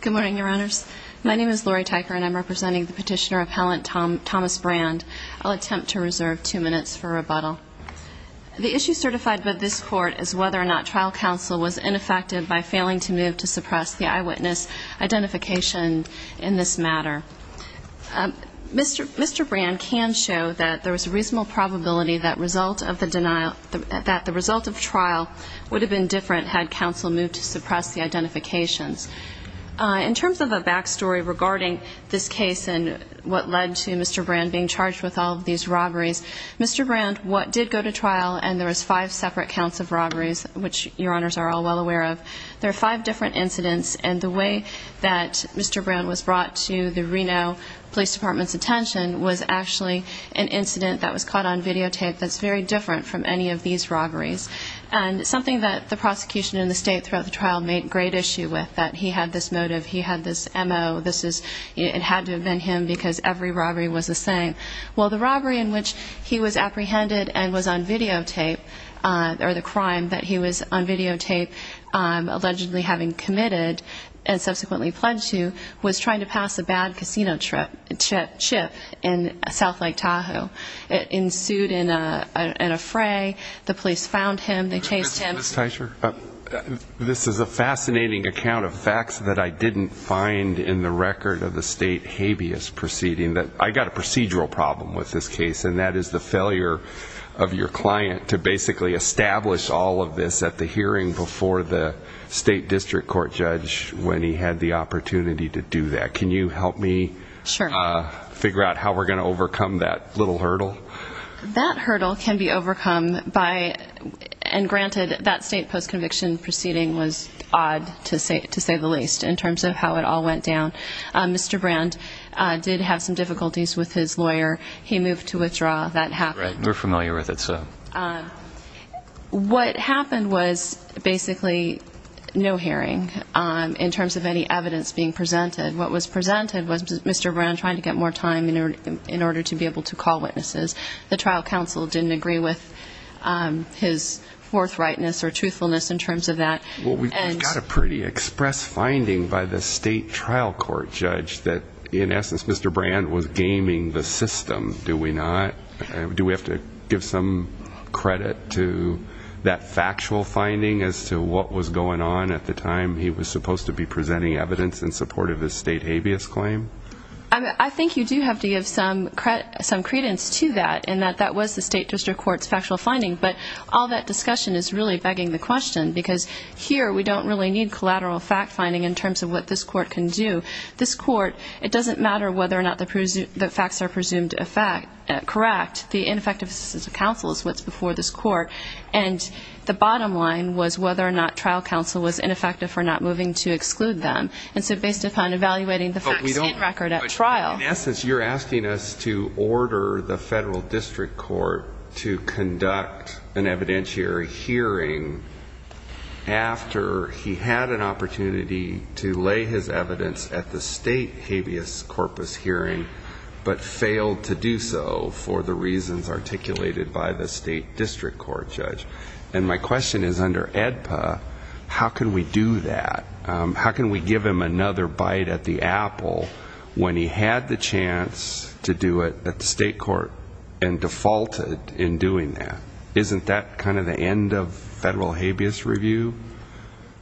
Good morning, Your Honors. My name is Lori Tyker, and I'm representing the Petitioner Appellant Thomas Brand. I'll attempt to reserve two minutes for rebuttal. The issue certified by this Court is whether or not trial counsel was ineffective by failing to move to suppress the eyewitness identification in this matter. Mr. Brand can show that there was a reasonable probability that the result of trial would have been different had counsel moved to suppress the identifications. In terms of a back story regarding this case and what led to Mr. Brand being charged with all of these robberies, Mr. Brand, what did go to trial, and there was five separate counts of robberies, which Your Honors are all well aware of, there are five different incidents, and the way that Mr. Brand was brought to the Reno Police Department's attention was actually an incident that was caught on videotape that's very different from any of these robberies, and something that the prosecution in the state throughout the trial made great issue with, that he had this motive, he had this M.O., this is, it had to have been him because every robbery was the same. Well, the robbery in which he was apprehended and was on videotape, or the crime that he was on videotape allegedly having committed and subsequently pledged to, was trying to pass a bad casino chip in South Lake Tahoe. It ensued in a fray, the police found him, they chased him. This is a fascinating account of facts that I didn't find in the record of the state habeas proceeding. I got a procedural problem with this case, and that is the failure of your district court judge when he had the opportunity to do that. Can you help me figure out how we're going to overcome that little hurdle? That hurdle can be overcome by, and granted, that state post-conviction proceeding was odd, to say the least, in terms of how it all went down. Mr. Brand did have some difficulties with his lawyer, he moved to withdraw, that What happened was basically no hearing in terms of any evidence being presented. What was presented was Mr. Brand trying to get more time in order to be able to call witnesses. The trial counsel didn't agree with his forthrightness or truthfulness in terms of that. Well, we've got a pretty express finding by the state trial court judge that in essence Mr. Brand was gaming the system, do we not? Do we have to give some credit to that factual finding as to what was going on at the time he was supposed to be presenting evidence in support of his state habeas claim? I think you do have to give some credence to that, in that that was the state district court's factual finding, but all that discussion is really begging the question, because here we don't really need collateral fact-finding in terms of what this court can do. This court, it doesn't matter whether or not the facts are presumed correct. The ineffectiveness of counsel is what's before this court, and the bottom line was whether or not trial counsel was ineffective for not moving to exclude them. And so based upon evaluating the facts in record at trial In essence, you're asking us to order the federal district court to conduct an evidentiary hearing after he had an opportunity to lay his evidence at the state habeas corpus hearing, but failed to do so for the reasons articulated by the state district court judge. And my question is under AEDPA, how can we do that? How can we give him another bite at the apple when he had the chance to do it at the state court and defaulted in doing that? Isn't that kind of the end of federal habeas review?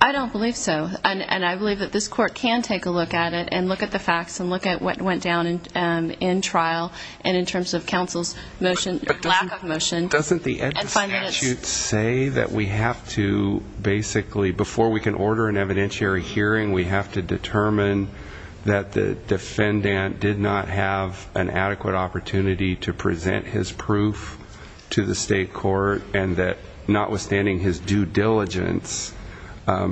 I don't believe so, and I believe that this court can take a look at it and look at the facts and look at what went down in trial and in terms of counsel's motion, lack of motion. Doesn't the statute say that we have to basically, before we can order an evidentiary hearing, we have to determine that the defendant did not have an adequate opportunity to present his proof to the state court, and that notwithstanding his due diligence,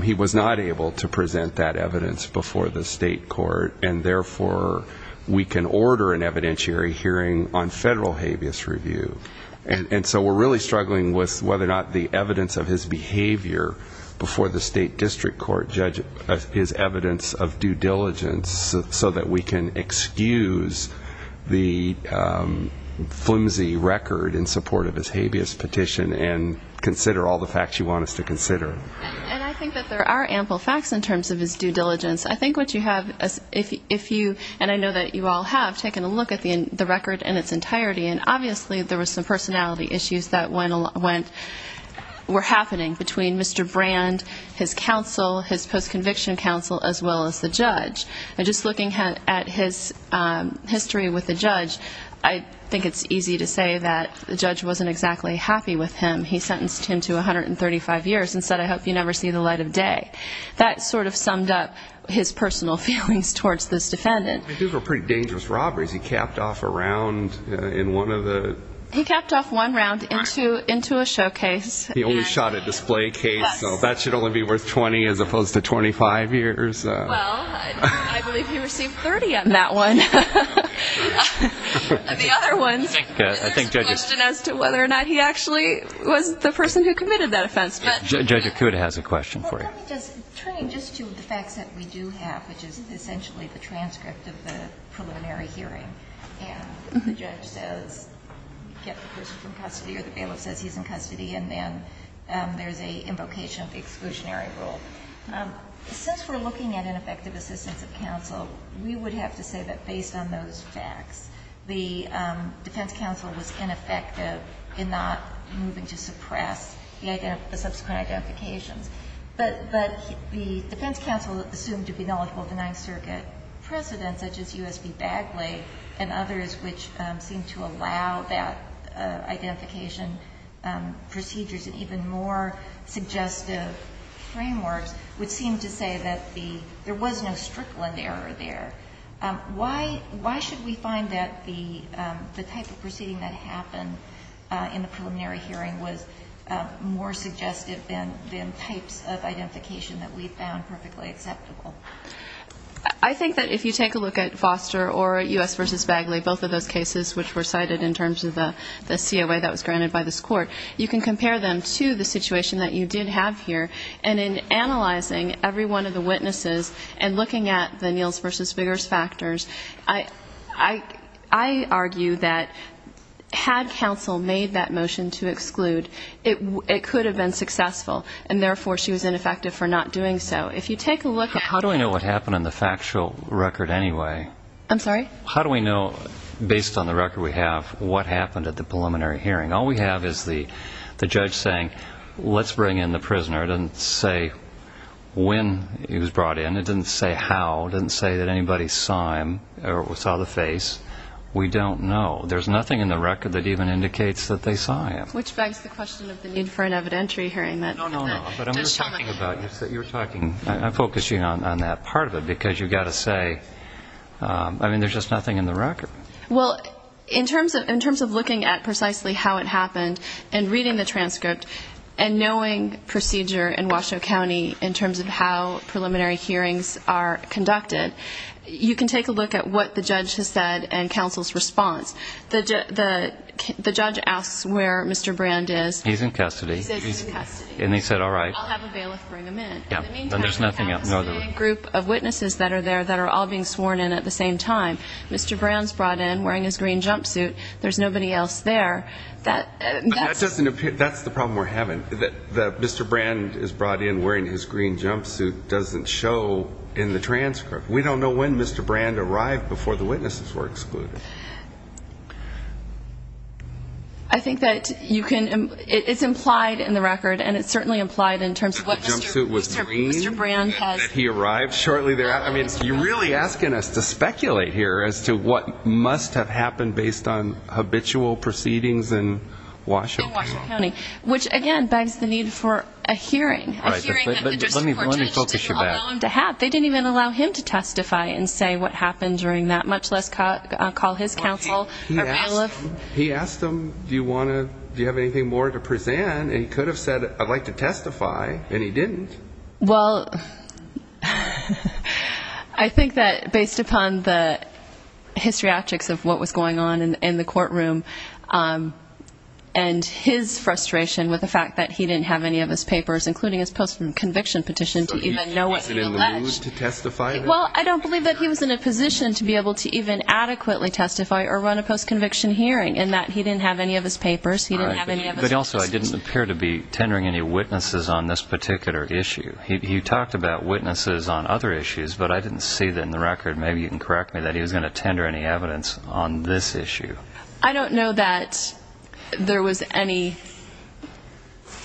he was not able to present that evidence before the state court, and therefore we can order an evidentiary hearing on federal habeas review. And so we're really struggling with whether or not the evidence of his behavior before the state district court judge is evidence of due diligence so that we can excuse the flimsy record in support of his habeas petition and consider all the facts you want us to consider. And I think that there are ample facts in terms of his due diligence. I think what you have, if you, and I know that you all have, taken a look at the record in its entirety, and obviously there were some personality issues that went, were happening between Mr. Conviction Counsel as well as the judge. And just looking at his history with the judge, I think it's easy to say that the judge wasn't exactly happy with him. He sentenced him to 135 years and said, I hope you never see the light of day. That sort of summed up his personal feelings towards this defendant. These were pretty dangerous robberies. He capped off a round in one of the... He capped off one round into a showcase. He only shot a display case, so that should only be worth 20 as opposed to 25 years. Well, I believe he received 30 on that one. The other ones, there's a question as to whether or not he actually was the person who committed that offense, but... Judge Acuda has a question for you. Well, let me just, turning just to the facts that we do have, which is essentially the transcript of the preliminary hearing. And the judge says, get the person from custody or the bailiff says he's in custody and then there's a invocation of the exclusionary rule. Since we're looking at ineffective assistance of counsel, we would have to say that based on those facts, the defense counsel was ineffective in not moving to suppress the subsequent identifications. But the defense counsel assumed to be knowledgeable of the Ninth Circuit precedent, such as U.S. v. Bagley and others, which seemed to allow that identification procedures in even more suggestive frameworks, which seemed to say that there was no Strickland error there. Why should we find that the type of proceeding that happened in the preliminary hearing was more suggestive than types of identification that we found perfectly acceptable? I think that if you take a look at Foster or U.S. v. Bagley, both of those cases which were cited in terms of the COA that was granted by this court, you can compare them to the situation that you did have here. And in analyzing every one of the witnesses and looking at the Niels v. Biggers factors, I argue that had counsel made that motion to exclude, it could have been successful. And therefore, she was ineffective for not doing so. If you take a look at the factual record anyway, how do we know based on the record we have what happened at the preliminary hearing? All we have is the judge saying, let's bring in the prisoner. It doesn't say when he was brought in. It doesn't say how. It doesn't say that anybody saw him or saw the face. We don't know. There's nothing in the record that even indicates that they saw him. Which begs the question of the need for an evidentiary hearing. No, no, no. I'm focusing on that part of it, because you've got to say, I mean, there's just nothing in the record. Well, in terms of looking at precisely how it happened and reading the transcript and knowing procedure in Washoe County in terms of how preliminary hearings are conducted, you can take a look at what the judge has said and counsel's response. The judge asks where Mr. Brand is. He's in custody. He's in custody. And he said, all right. I'll have a bailiff bring him in. Yeah, and there's nothing else. In the meantime, counsel made a group of witnesses that are there that are all being sworn in at the same time. Mr. Brand's brought in wearing his green jumpsuit. There's nobody else there. That's the problem we're having, that Mr. Brand is brought in wearing his green jumpsuit doesn't show in the transcript. We don't know when Mr. Brand arrived before the witnesses were excluded. I think that it's implied in the record, and it's certainly implied in terms of what Mr. Brand has. He arrived shortly thereafter. I mean, you're really asking us to speculate here as to what must have happened based on habitual proceedings in Washoe County. In Washoe County, which, again, begs the need for a hearing. A hearing that the district court judge didn't allow him to have. They didn't even allow him to testify and say what happened during that, much less call his counsel or bailiff. He asked him, do you have anything more to present? And he could have said, I'd like to testify, and he didn't. Well, I think that based upon the histriatrics of what was going on in the courtroom, and his frustration with the fact that he didn't have any of his papers, including his post conviction petition to even know what he alleged. Was he in the mood to testify? Well, I don't believe that he was in a position to be able to even adequately testify or run a post conviction hearing, in that he didn't have any of his papers. But also, he didn't appear to be tendering any witnesses on this particular issue. He talked about witnesses on other issues, but I didn't see that in the record, maybe you can correct me, that he was going to tender any evidence on this issue. I don't know that there was any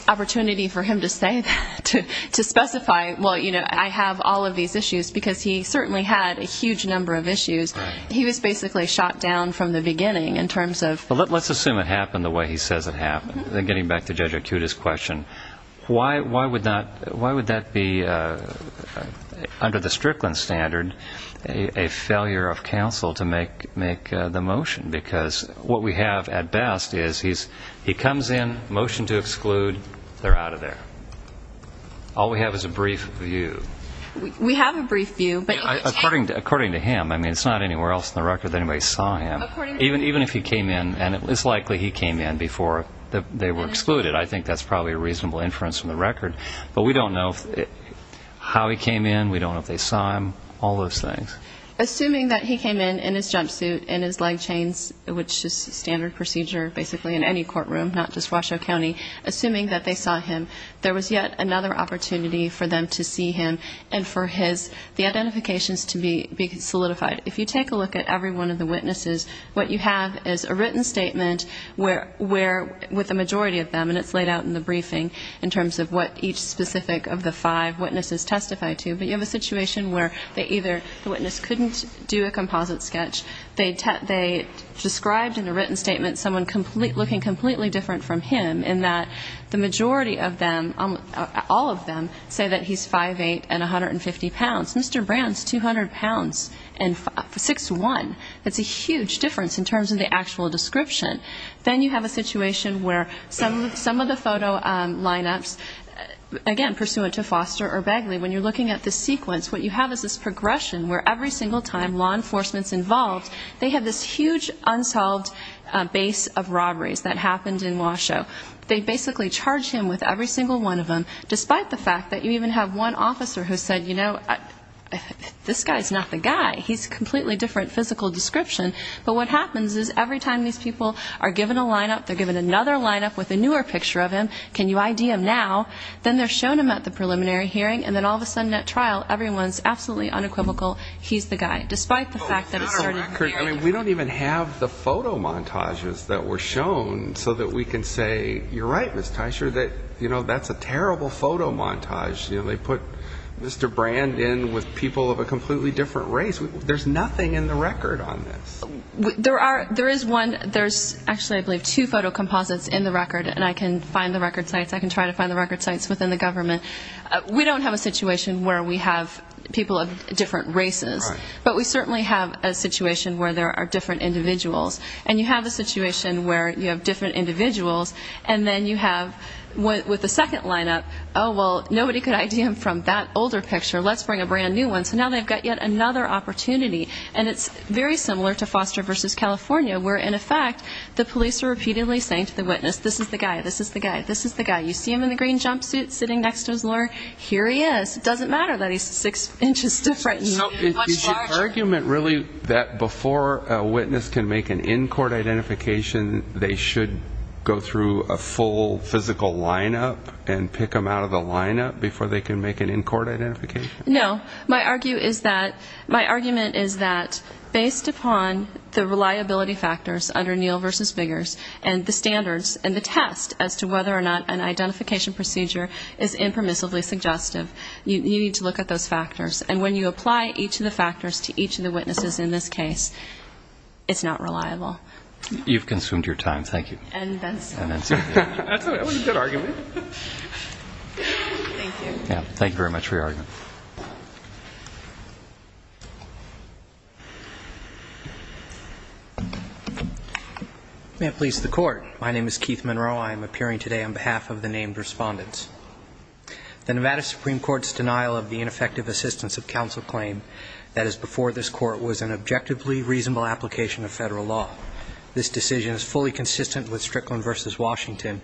opportunity for him to say that, to specify, well, I have all of these issues, because he certainly had a huge number of issues. He was basically shot down from the beginning in terms of Let's assume it happened the way he says it happened. Getting back to Judge Acuta's question, why would that be, under the Strickland standard, a failure of counsel to make the motion? Because what we have at best is, he comes in, motion to exclude, they're out of there. All we have is a brief view. We have a brief view, but According to him. I mean, it's not anywhere else in the record that anybody saw him. Even if he came in, and it's likely he came in before they were excluded, I think that's probably a reasonable inference from the record, but we don't know how he came in, we don't know if they saw him, all those things. Assuming that he came in in his jumpsuit, in his leg chains, which is standard procedure basically in any courtroom, not just Washoe County, assuming that they saw him, there was yet another opportunity for them to see him and for the identifications to be solidified. If you take a look at every one of the witnesses, what you have is a written statement with the majority of them, and it's laid out in the briefing in terms of what each specific of the five witnesses testified to, but you have a situation where the witness couldn't do a composite sketch, they described in a written statement someone looking completely different from him, in that the majority of them, all of them, say that he's 5'8 and 150 pounds. Mr. Brown's 200 pounds and 6'1". That's a huge difference in terms of the actual description. Then you have a situation where some of the photo lineups, again, pursuant to Foster or Begley, when you're looking at the sequence, what you have is this progression where every single time law enforcement's involved, they have this huge unsolved base of robberies that happened in Washoe. They basically charge him with every single one of them, despite the fact that you even have one officer who said, you know, this guy's not the guy. He's a completely different physical description. But what happens is every time these people are given a lineup, they're given another lineup with a newer picture of him, can you ID him now? Then they're shown him at the preliminary hearing, and then all of a sudden at trial, everyone's absolutely unequivocal, he's the guy, despite the fact that it started here. We don't even have the photo montages that were shown so that we can say, you're right, Ms. Teicher, that, you know, that's a terrible photo montage. They put Mr. Brand in with people of a completely different race. There's nothing in the record on this. There is one. There's actually, I believe, two photo composites in the record, and I can find the record sites. I can try to find the record sites within the government. We don't have a situation where we have people of different races, but we certainly have a situation where there are different individuals. And you have a situation where you have different individuals, and then you have, with the second lineup, oh, well, nobody could ID him from that older picture. Let's bring a brand new one. So now they've got yet another opportunity. And it's very similar to Foster v. California, where, in effect, the police are repeatedly saying to the witness, this is the guy, this is the guy, this is the guy. You see him in the green jumpsuit sitting next to his lawyer? Here he is. It doesn't matter that he's six inches different. Is your argument really that before a witness can make an in-court identification, they should go through a full physical lineup and pick him out of the lineup before they can make an in-court identification? No. My argument is that based upon the reliability factors under Neal v. Biggers and the standards and the test as to whether or not an identification procedure is impermissibly suggestive, you need to look at those factors. And when you apply each of the factors to each of the witnesses in this case, it's not reliable. You've consumed your time. Thank you. And Benson. That was a good argument. Thank you. Thank you very much for your argument. May it please the Court. My name is Keith Monroe. I am appearing today on behalf of the named respondents. The Nevada Supreme Court's denial of the ineffective assistance of counsel claim that is before this Court was an objectively reasonable application of federal law. This decision is fully consistent with Strickland v. Washington.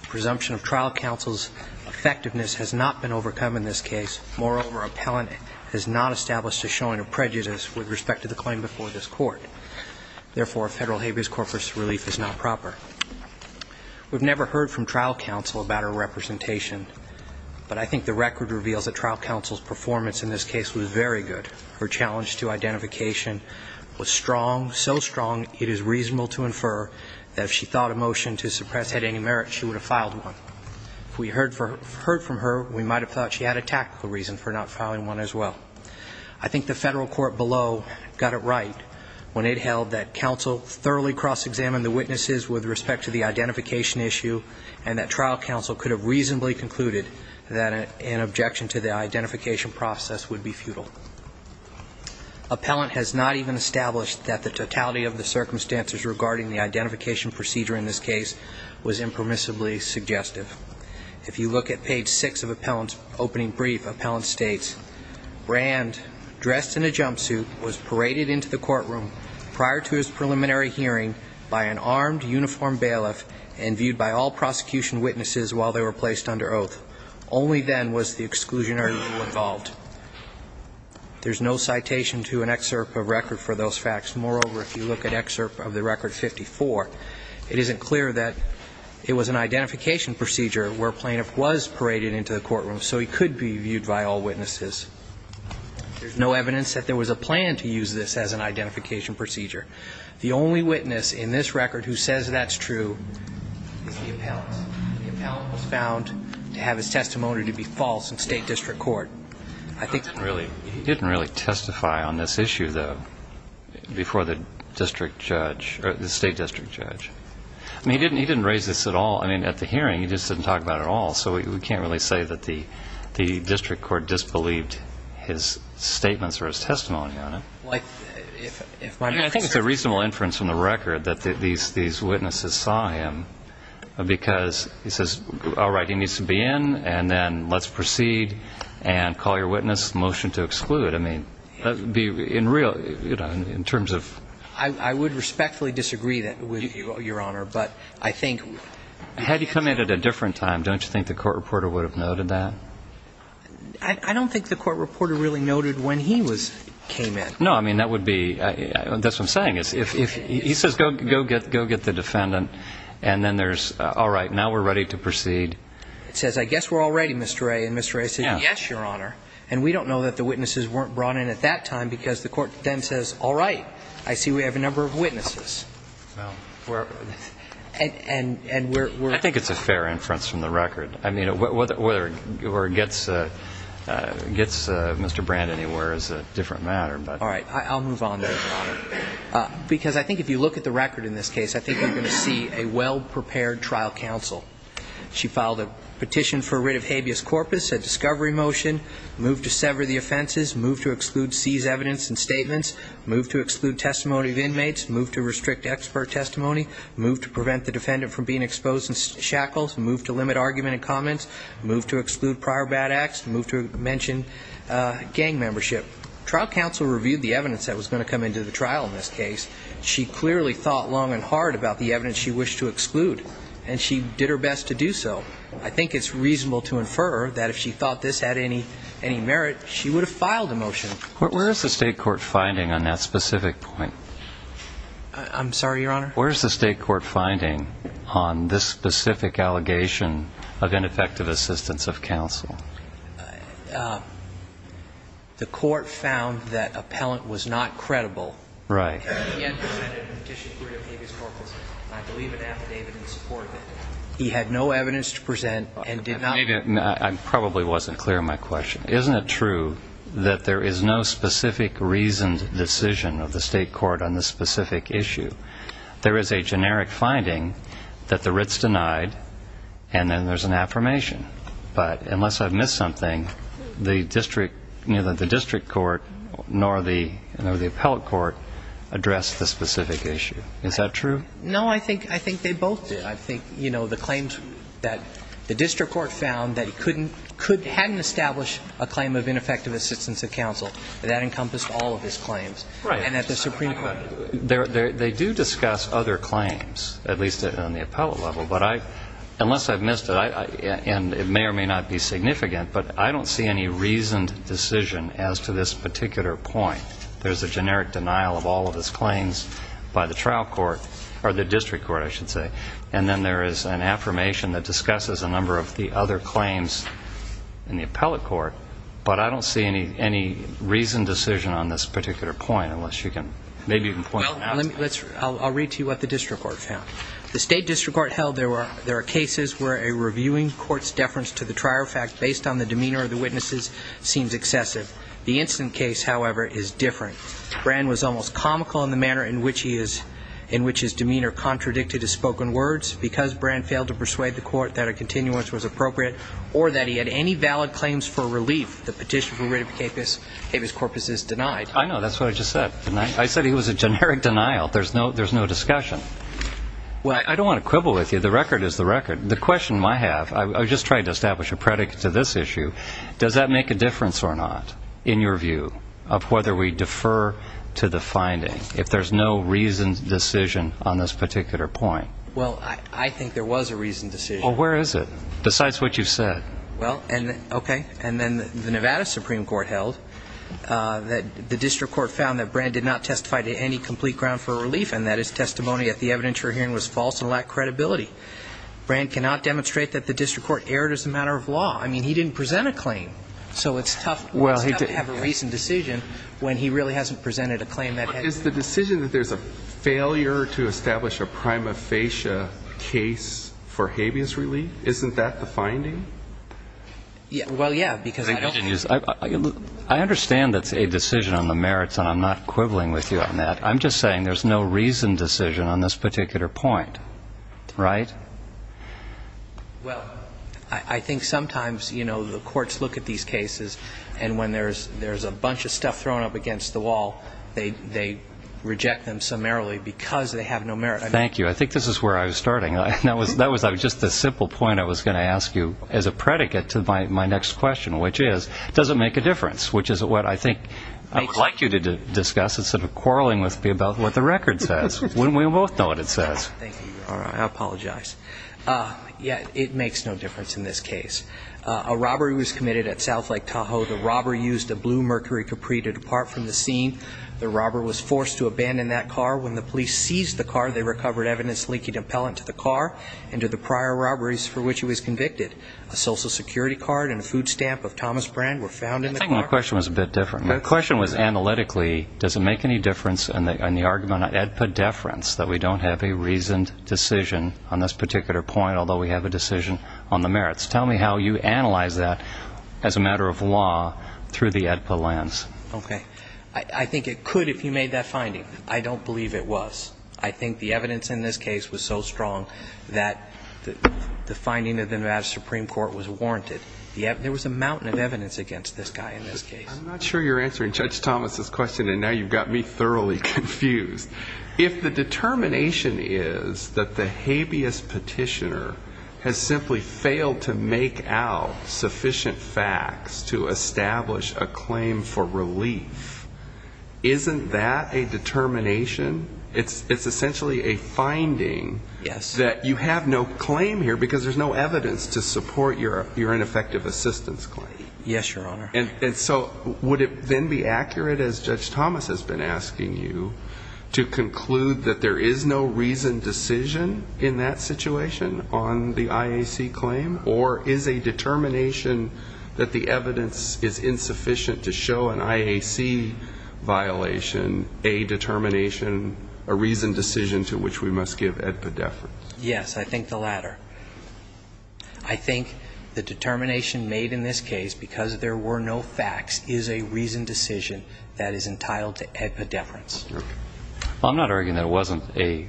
The presumption of trial counsel's effectiveness has not been overcome in this case. Moreover, appellant has not established a showing of prejudice with respect to the claim before this Court. Therefore, federal habeas corpus relief is not proper. We've never heard from trial counsel about her representation, but I think the record reveals that trial counsel's performance in this case was very good. Her challenge to identification was strong, so strong it is reasonable to infer that if she thought a motion to suppress had any merit, she would have filed one. If we heard from her, we might have thought she had a tactical reason for not filing one as well. I think the federal court below got it right when it held that counsel thoroughly cross-examined the witnesses with respect to the identification issue and that trial counsel could have reasonably concluded that an objection to the identification process would be futile. Appellant has not even established that the totality of the circumstances regarding the identification procedure in this case was impermissibly suggestive. If you look at page 6 of appellant's opening brief, appellant states, Rand, dressed in a jumpsuit, was paraded into the courtroom prior to his preliminary hearing by an armed uniformed bailiff and viewed by all prosecution witnesses while they were placed under oath. Only then was the exclusionary rule involved. There's no citation to an excerpt of record for those facts. Moreover, if you look at excerpt of the record 54, it isn't clear that it was an identification procedure where plaintiff was paraded into the courtroom, so he could be viewed by all witnesses. There's no evidence that there was a plan to use this as an identification procedure. The only witness in this record who says that's true is the appellant. The appellant was found to have his testimony to be false in state district court. I think that really he didn't really testify on this issue, though, before the district judge or the state district judge. I mean, he didn't raise this at all. I mean, at the hearing, he just didn't talk about it at all, so we can't really say that the district court disbelieved his statements or his testimony on it. I think it's a reasonable inference from the record that these witnesses saw him because he says, all right, he needs to be in, and then let's proceed, and call your witness, motion to exclude. I mean, in terms of ---- I would respectfully disagree with you, Your Honor, but I think ---- Had he come in at a different time, don't you think the court reporter would have noted that? I don't think the court reporter really noted when he came in. No, I mean, that would be ---- that's what I'm saying. He says, go get the defendant, and then there's, all right, now we're ready to proceed. It says, I guess we're all ready, Mr. Ray. And Mr. Ray says, yes, Your Honor. And we don't know that the witnesses weren't brought in at that time because the court then says, all right, I see we have a number of witnesses. And we're ---- I think it's a fair inference from the record. I mean, whether it gets Mr. Brand anywhere is a different matter. All right, I'll move on then, Your Honor, because I think if you look at the record in this case, I think you're going to see a well-prepared trial counsel. She filed a petition for writ of habeas corpus, a discovery motion, moved to sever the offenses, moved to exclude seized evidence and statements, moved to exclude testimony of inmates, moved to restrict expert testimony, moved to prevent the defendant from being exposed in shackles, moved to limit argument and comments, moved to exclude prior bad acts, moved to mention gang membership. Trial counsel reviewed the evidence that was going to come into the trial in this case. She clearly thought long and hard about the evidence she wished to exclude, and she did her best to do so. I think it's reasonable to infer that if she thought this had any merit, she would have filed a motion. Where is the state court finding on that specific point? I'm sorry, Your Honor? Where is the state court finding on this specific allegation of ineffective assistance of counsel? The court found that appellant was not credible. Right. And yet presented a petition for writ of habeas corpus, and I believe an affidavit in support of it. He had no evidence to present and did not. I probably wasn't clear on my question. Isn't it true that there is no specific reasoned decision of the state court on this specific issue? There is a generic finding that the writ's denied, and then there's an affirmation. But unless I've missed something, the district, neither the district court nor the appellate court addressed the specific issue. Is that true? No, I think they both did. I think, you know, the claims that the district court found that he couldn't, hadn't established a claim of ineffective assistance of counsel, that encompassed all of his claims. Right. And at the Supreme Court. They do discuss other claims, at least on the appellate level. But I, unless I've missed it, and it may or may not be significant, but I don't see any reasoned decision as to this particular point. There's a generic denial of all of his claims by the trial court, or the district court, I should say. And then there is an affirmation that discusses a number of the other claims in the appellate court. But I don't see any reasoned decision on this particular point, unless you can, maybe you can point that out. I'll read to you what the district court found. The state district court held there are cases where a reviewing court's deference to the trial fact based on the demeanor of the witnesses seems excessive. The incident case, however, is different. Bran was almost comical in the manner in which his demeanor contradicted his spoken words. Because Bran failed to persuade the court that a continuance was appropriate or that he had any valid claims for relief, the petition for rid of Capus Corpus is denied. I know, that's what I just said. I said he was a generic denial. There's no discussion. I don't want to quibble with you. The record is the record. The question I have, I was just trying to establish a predicate to this issue, does that make a difference or not in your view of whether we defer to the finding if there's no reasoned decision on this particular point? Well, I think there was a reasoned decision. Well, where is it, besides what you've said? Well, okay. And then the Nevada Supreme Court held that the district court found that Bran did not testify to any complete ground for relief and that his testimony at the evidence you're hearing was false and lacked credibility. Bran cannot demonstrate that the district court erred as a matter of law. I mean, he didn't present a claim. So it's tough to have a reasoned decision when he really hasn't presented a claim that has. But is the decision that there's a failure to establish a prima facie case for habeas relief, Well, yeah, because I don't. I understand that's a decision on the merits, and I'm not quibbling with you on that. I'm just saying there's no reasoned decision on this particular point, right? Well, I think sometimes, you know, the courts look at these cases and when there's a bunch of stuff thrown up against the wall, they reject them summarily because they have no merit. Thank you. I think this is where I was starting. That was just a simple point I was going to ask you as a predicate to my next question, which is, does it make a difference? Which is what I think I would like you to discuss instead of quarreling with me about what the record says. Wouldn't we both know what it says? Thank you. I apologize. Yeah, it makes no difference in this case. A robbery was committed at South Lake Tahoe. The robber used a blue Mercury Capri to depart from the scene. The robber was forced to abandon that car. When the police seized the car, they recovered evidence linking the appellant to the car and to the prior robberies for which he was convicted. A Social Security card and a food stamp of Thomas Brand were found in the car. I think my question was a bit different. My question was analytically, does it make any difference in the argument of AEDPA deference that we don't have a reasoned decision on this particular point, although we have a decision on the merits? Tell me how you analyze that as a matter of law through the AEDPA lens. Okay. I think it could if you made that finding. I don't believe it was. I think the evidence in this case was so strong that the finding of the Nevada Supreme Court was warranted. There was a mountain of evidence against this guy in this case. I'm not sure you're answering Judge Thomas' question, and now you've got me thoroughly confused. If the determination is that the habeas petitioner has simply failed to make out sufficient facts to establish a claim for relief, isn't that a determination? It's essentially a finding that you have no claim here because there's no evidence to support your ineffective assistance claim. Yes, Your Honor. And so would it then be accurate, as Judge Thomas has been asking you, to conclude that there is no reasoned decision in that situation on the IAC claim, or is a determination that the evidence is insufficient to show an IAC violation a determination, a reasoned decision to which we must give AEDPA deference? Yes, I think the latter. I think the determination made in this case because there were no facts is a reasoned decision that is entitled to AEDPA deference. Okay. Well, I'm not arguing that it wasn't a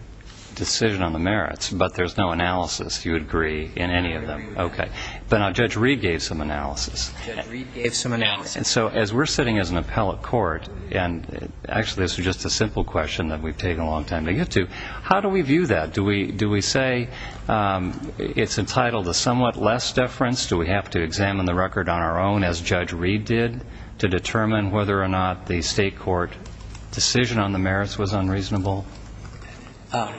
decision on the merits, but there's no analysis, do you agree, in any of them? I agree with that. Okay. But now Judge Reed gave some analysis. Judge Reed gave some analysis. And so as we're sitting as an appellate court, and actually this is just a simple question that we've taken a long time to get to, how do we view that? Do we say it's entitled to somewhat less deference? Do we have to examine the record on our own, as Judge Reed did, to determine whether or not the state court decision on the merits was unreasonable? I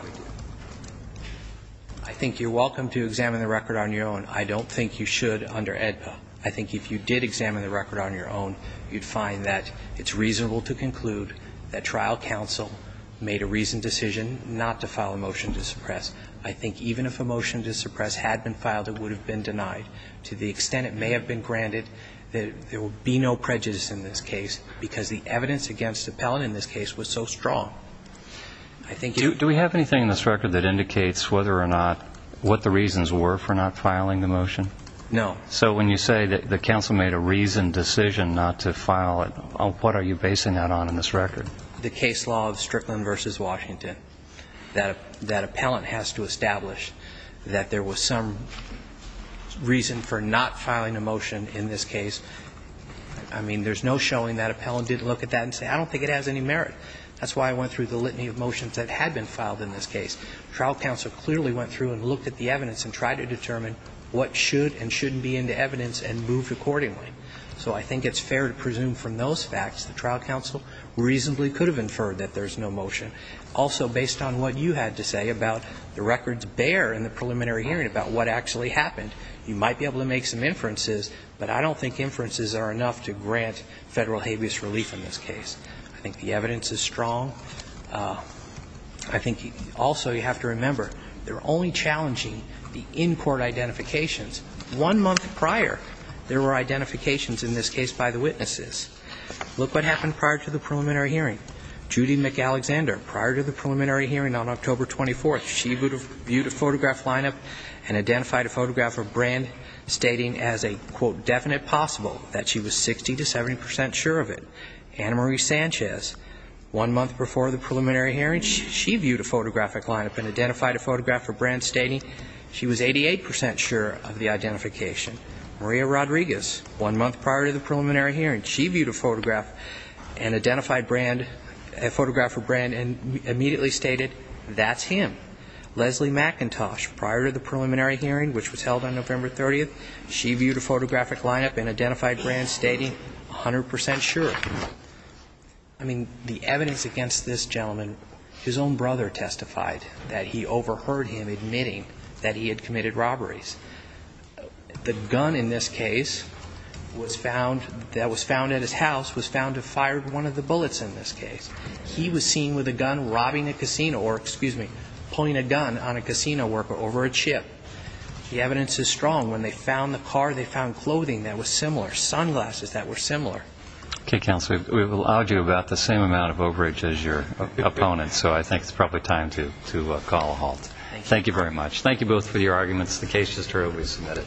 think you're welcome to examine the record on your own. I don't think you should under AEDPA. I think if you did examine the record on your own, you'd find that it's reasonable to conclude that trial counsel made a reasoned decision not to file a motion to suppress. I think even if a motion to suppress had been filed, it would have been denied. To the extent it may have been granted, there would be no prejudice in this case, because the evidence against the appellate in this case was so strong. Do we have anything in this record that indicates whether or not what the reasons were for not filing the motion? No. So when you say that the counsel made a reasoned decision not to file it, what are you basing that on in this record? The case law of Strickland v. Washington. That appellant has to establish that there was some reason for not filing a motion in this case. I mean, there's no showing that appellant didn't look at that and say, I don't think it has any merit. That's why I went through the litany of motions that had been filed in this case. Trial counsel clearly went through and looked at the evidence and tried to determine what should and shouldn't be in the evidence and moved accordingly. So I think it's fair to presume from those facts the trial counsel reasonably could have inferred that there's no motion. Also, based on what you had to say about the records there in the preliminary hearing about what actually happened, you might be able to make some inferences, but I don't think inferences are enough to grant Federal habeas relief in this case. I think the evidence is strong. I think also you have to remember they're only challenging the in-court identifications. One month prior, there were identifications in this case by the witnesses. Look what happened prior to the preliminary hearing. Judy McAlexander, prior to the preliminary hearing on October 24th, she viewed a photograph line-up and identified a photograph of Brand stating as a, quote, definite possible that she was 60 to 70 percent sure of it. Anna Marie Sanchez, one month before the preliminary hearing, she viewed a photographic line-up and identified a photograph of Brand stating she was 88 percent sure of the identification. Maria Rodriguez, one month prior to the preliminary hearing, she viewed a photograph and identified Brand, a photograph of Brand, and immediately stated that's him. Leslie McIntosh, prior to the preliminary hearing, which was held on November 30th, she viewed a photographic line-up and identified Brand stating 100 percent sure. I mean, the evidence against this gentleman, his own brother testified that he overheard him admitting that he had committed robberies. The gun in this case was found, that was found at his house, was found to have fired one of the bullets in this case. He was seen with a gun robbing a casino, or, excuse me, pulling a gun on a casino worker over a chip. The evidence is strong. When they found the car, they found clothing that was similar, sunglasses that were similar. Okay, counsel. We've allowed you about the same amount of overage as your opponent, so I think it's probably time to call a halt. Thank you. Thank you very much. Thank you both for your arguments. The case is thoroughly submitted.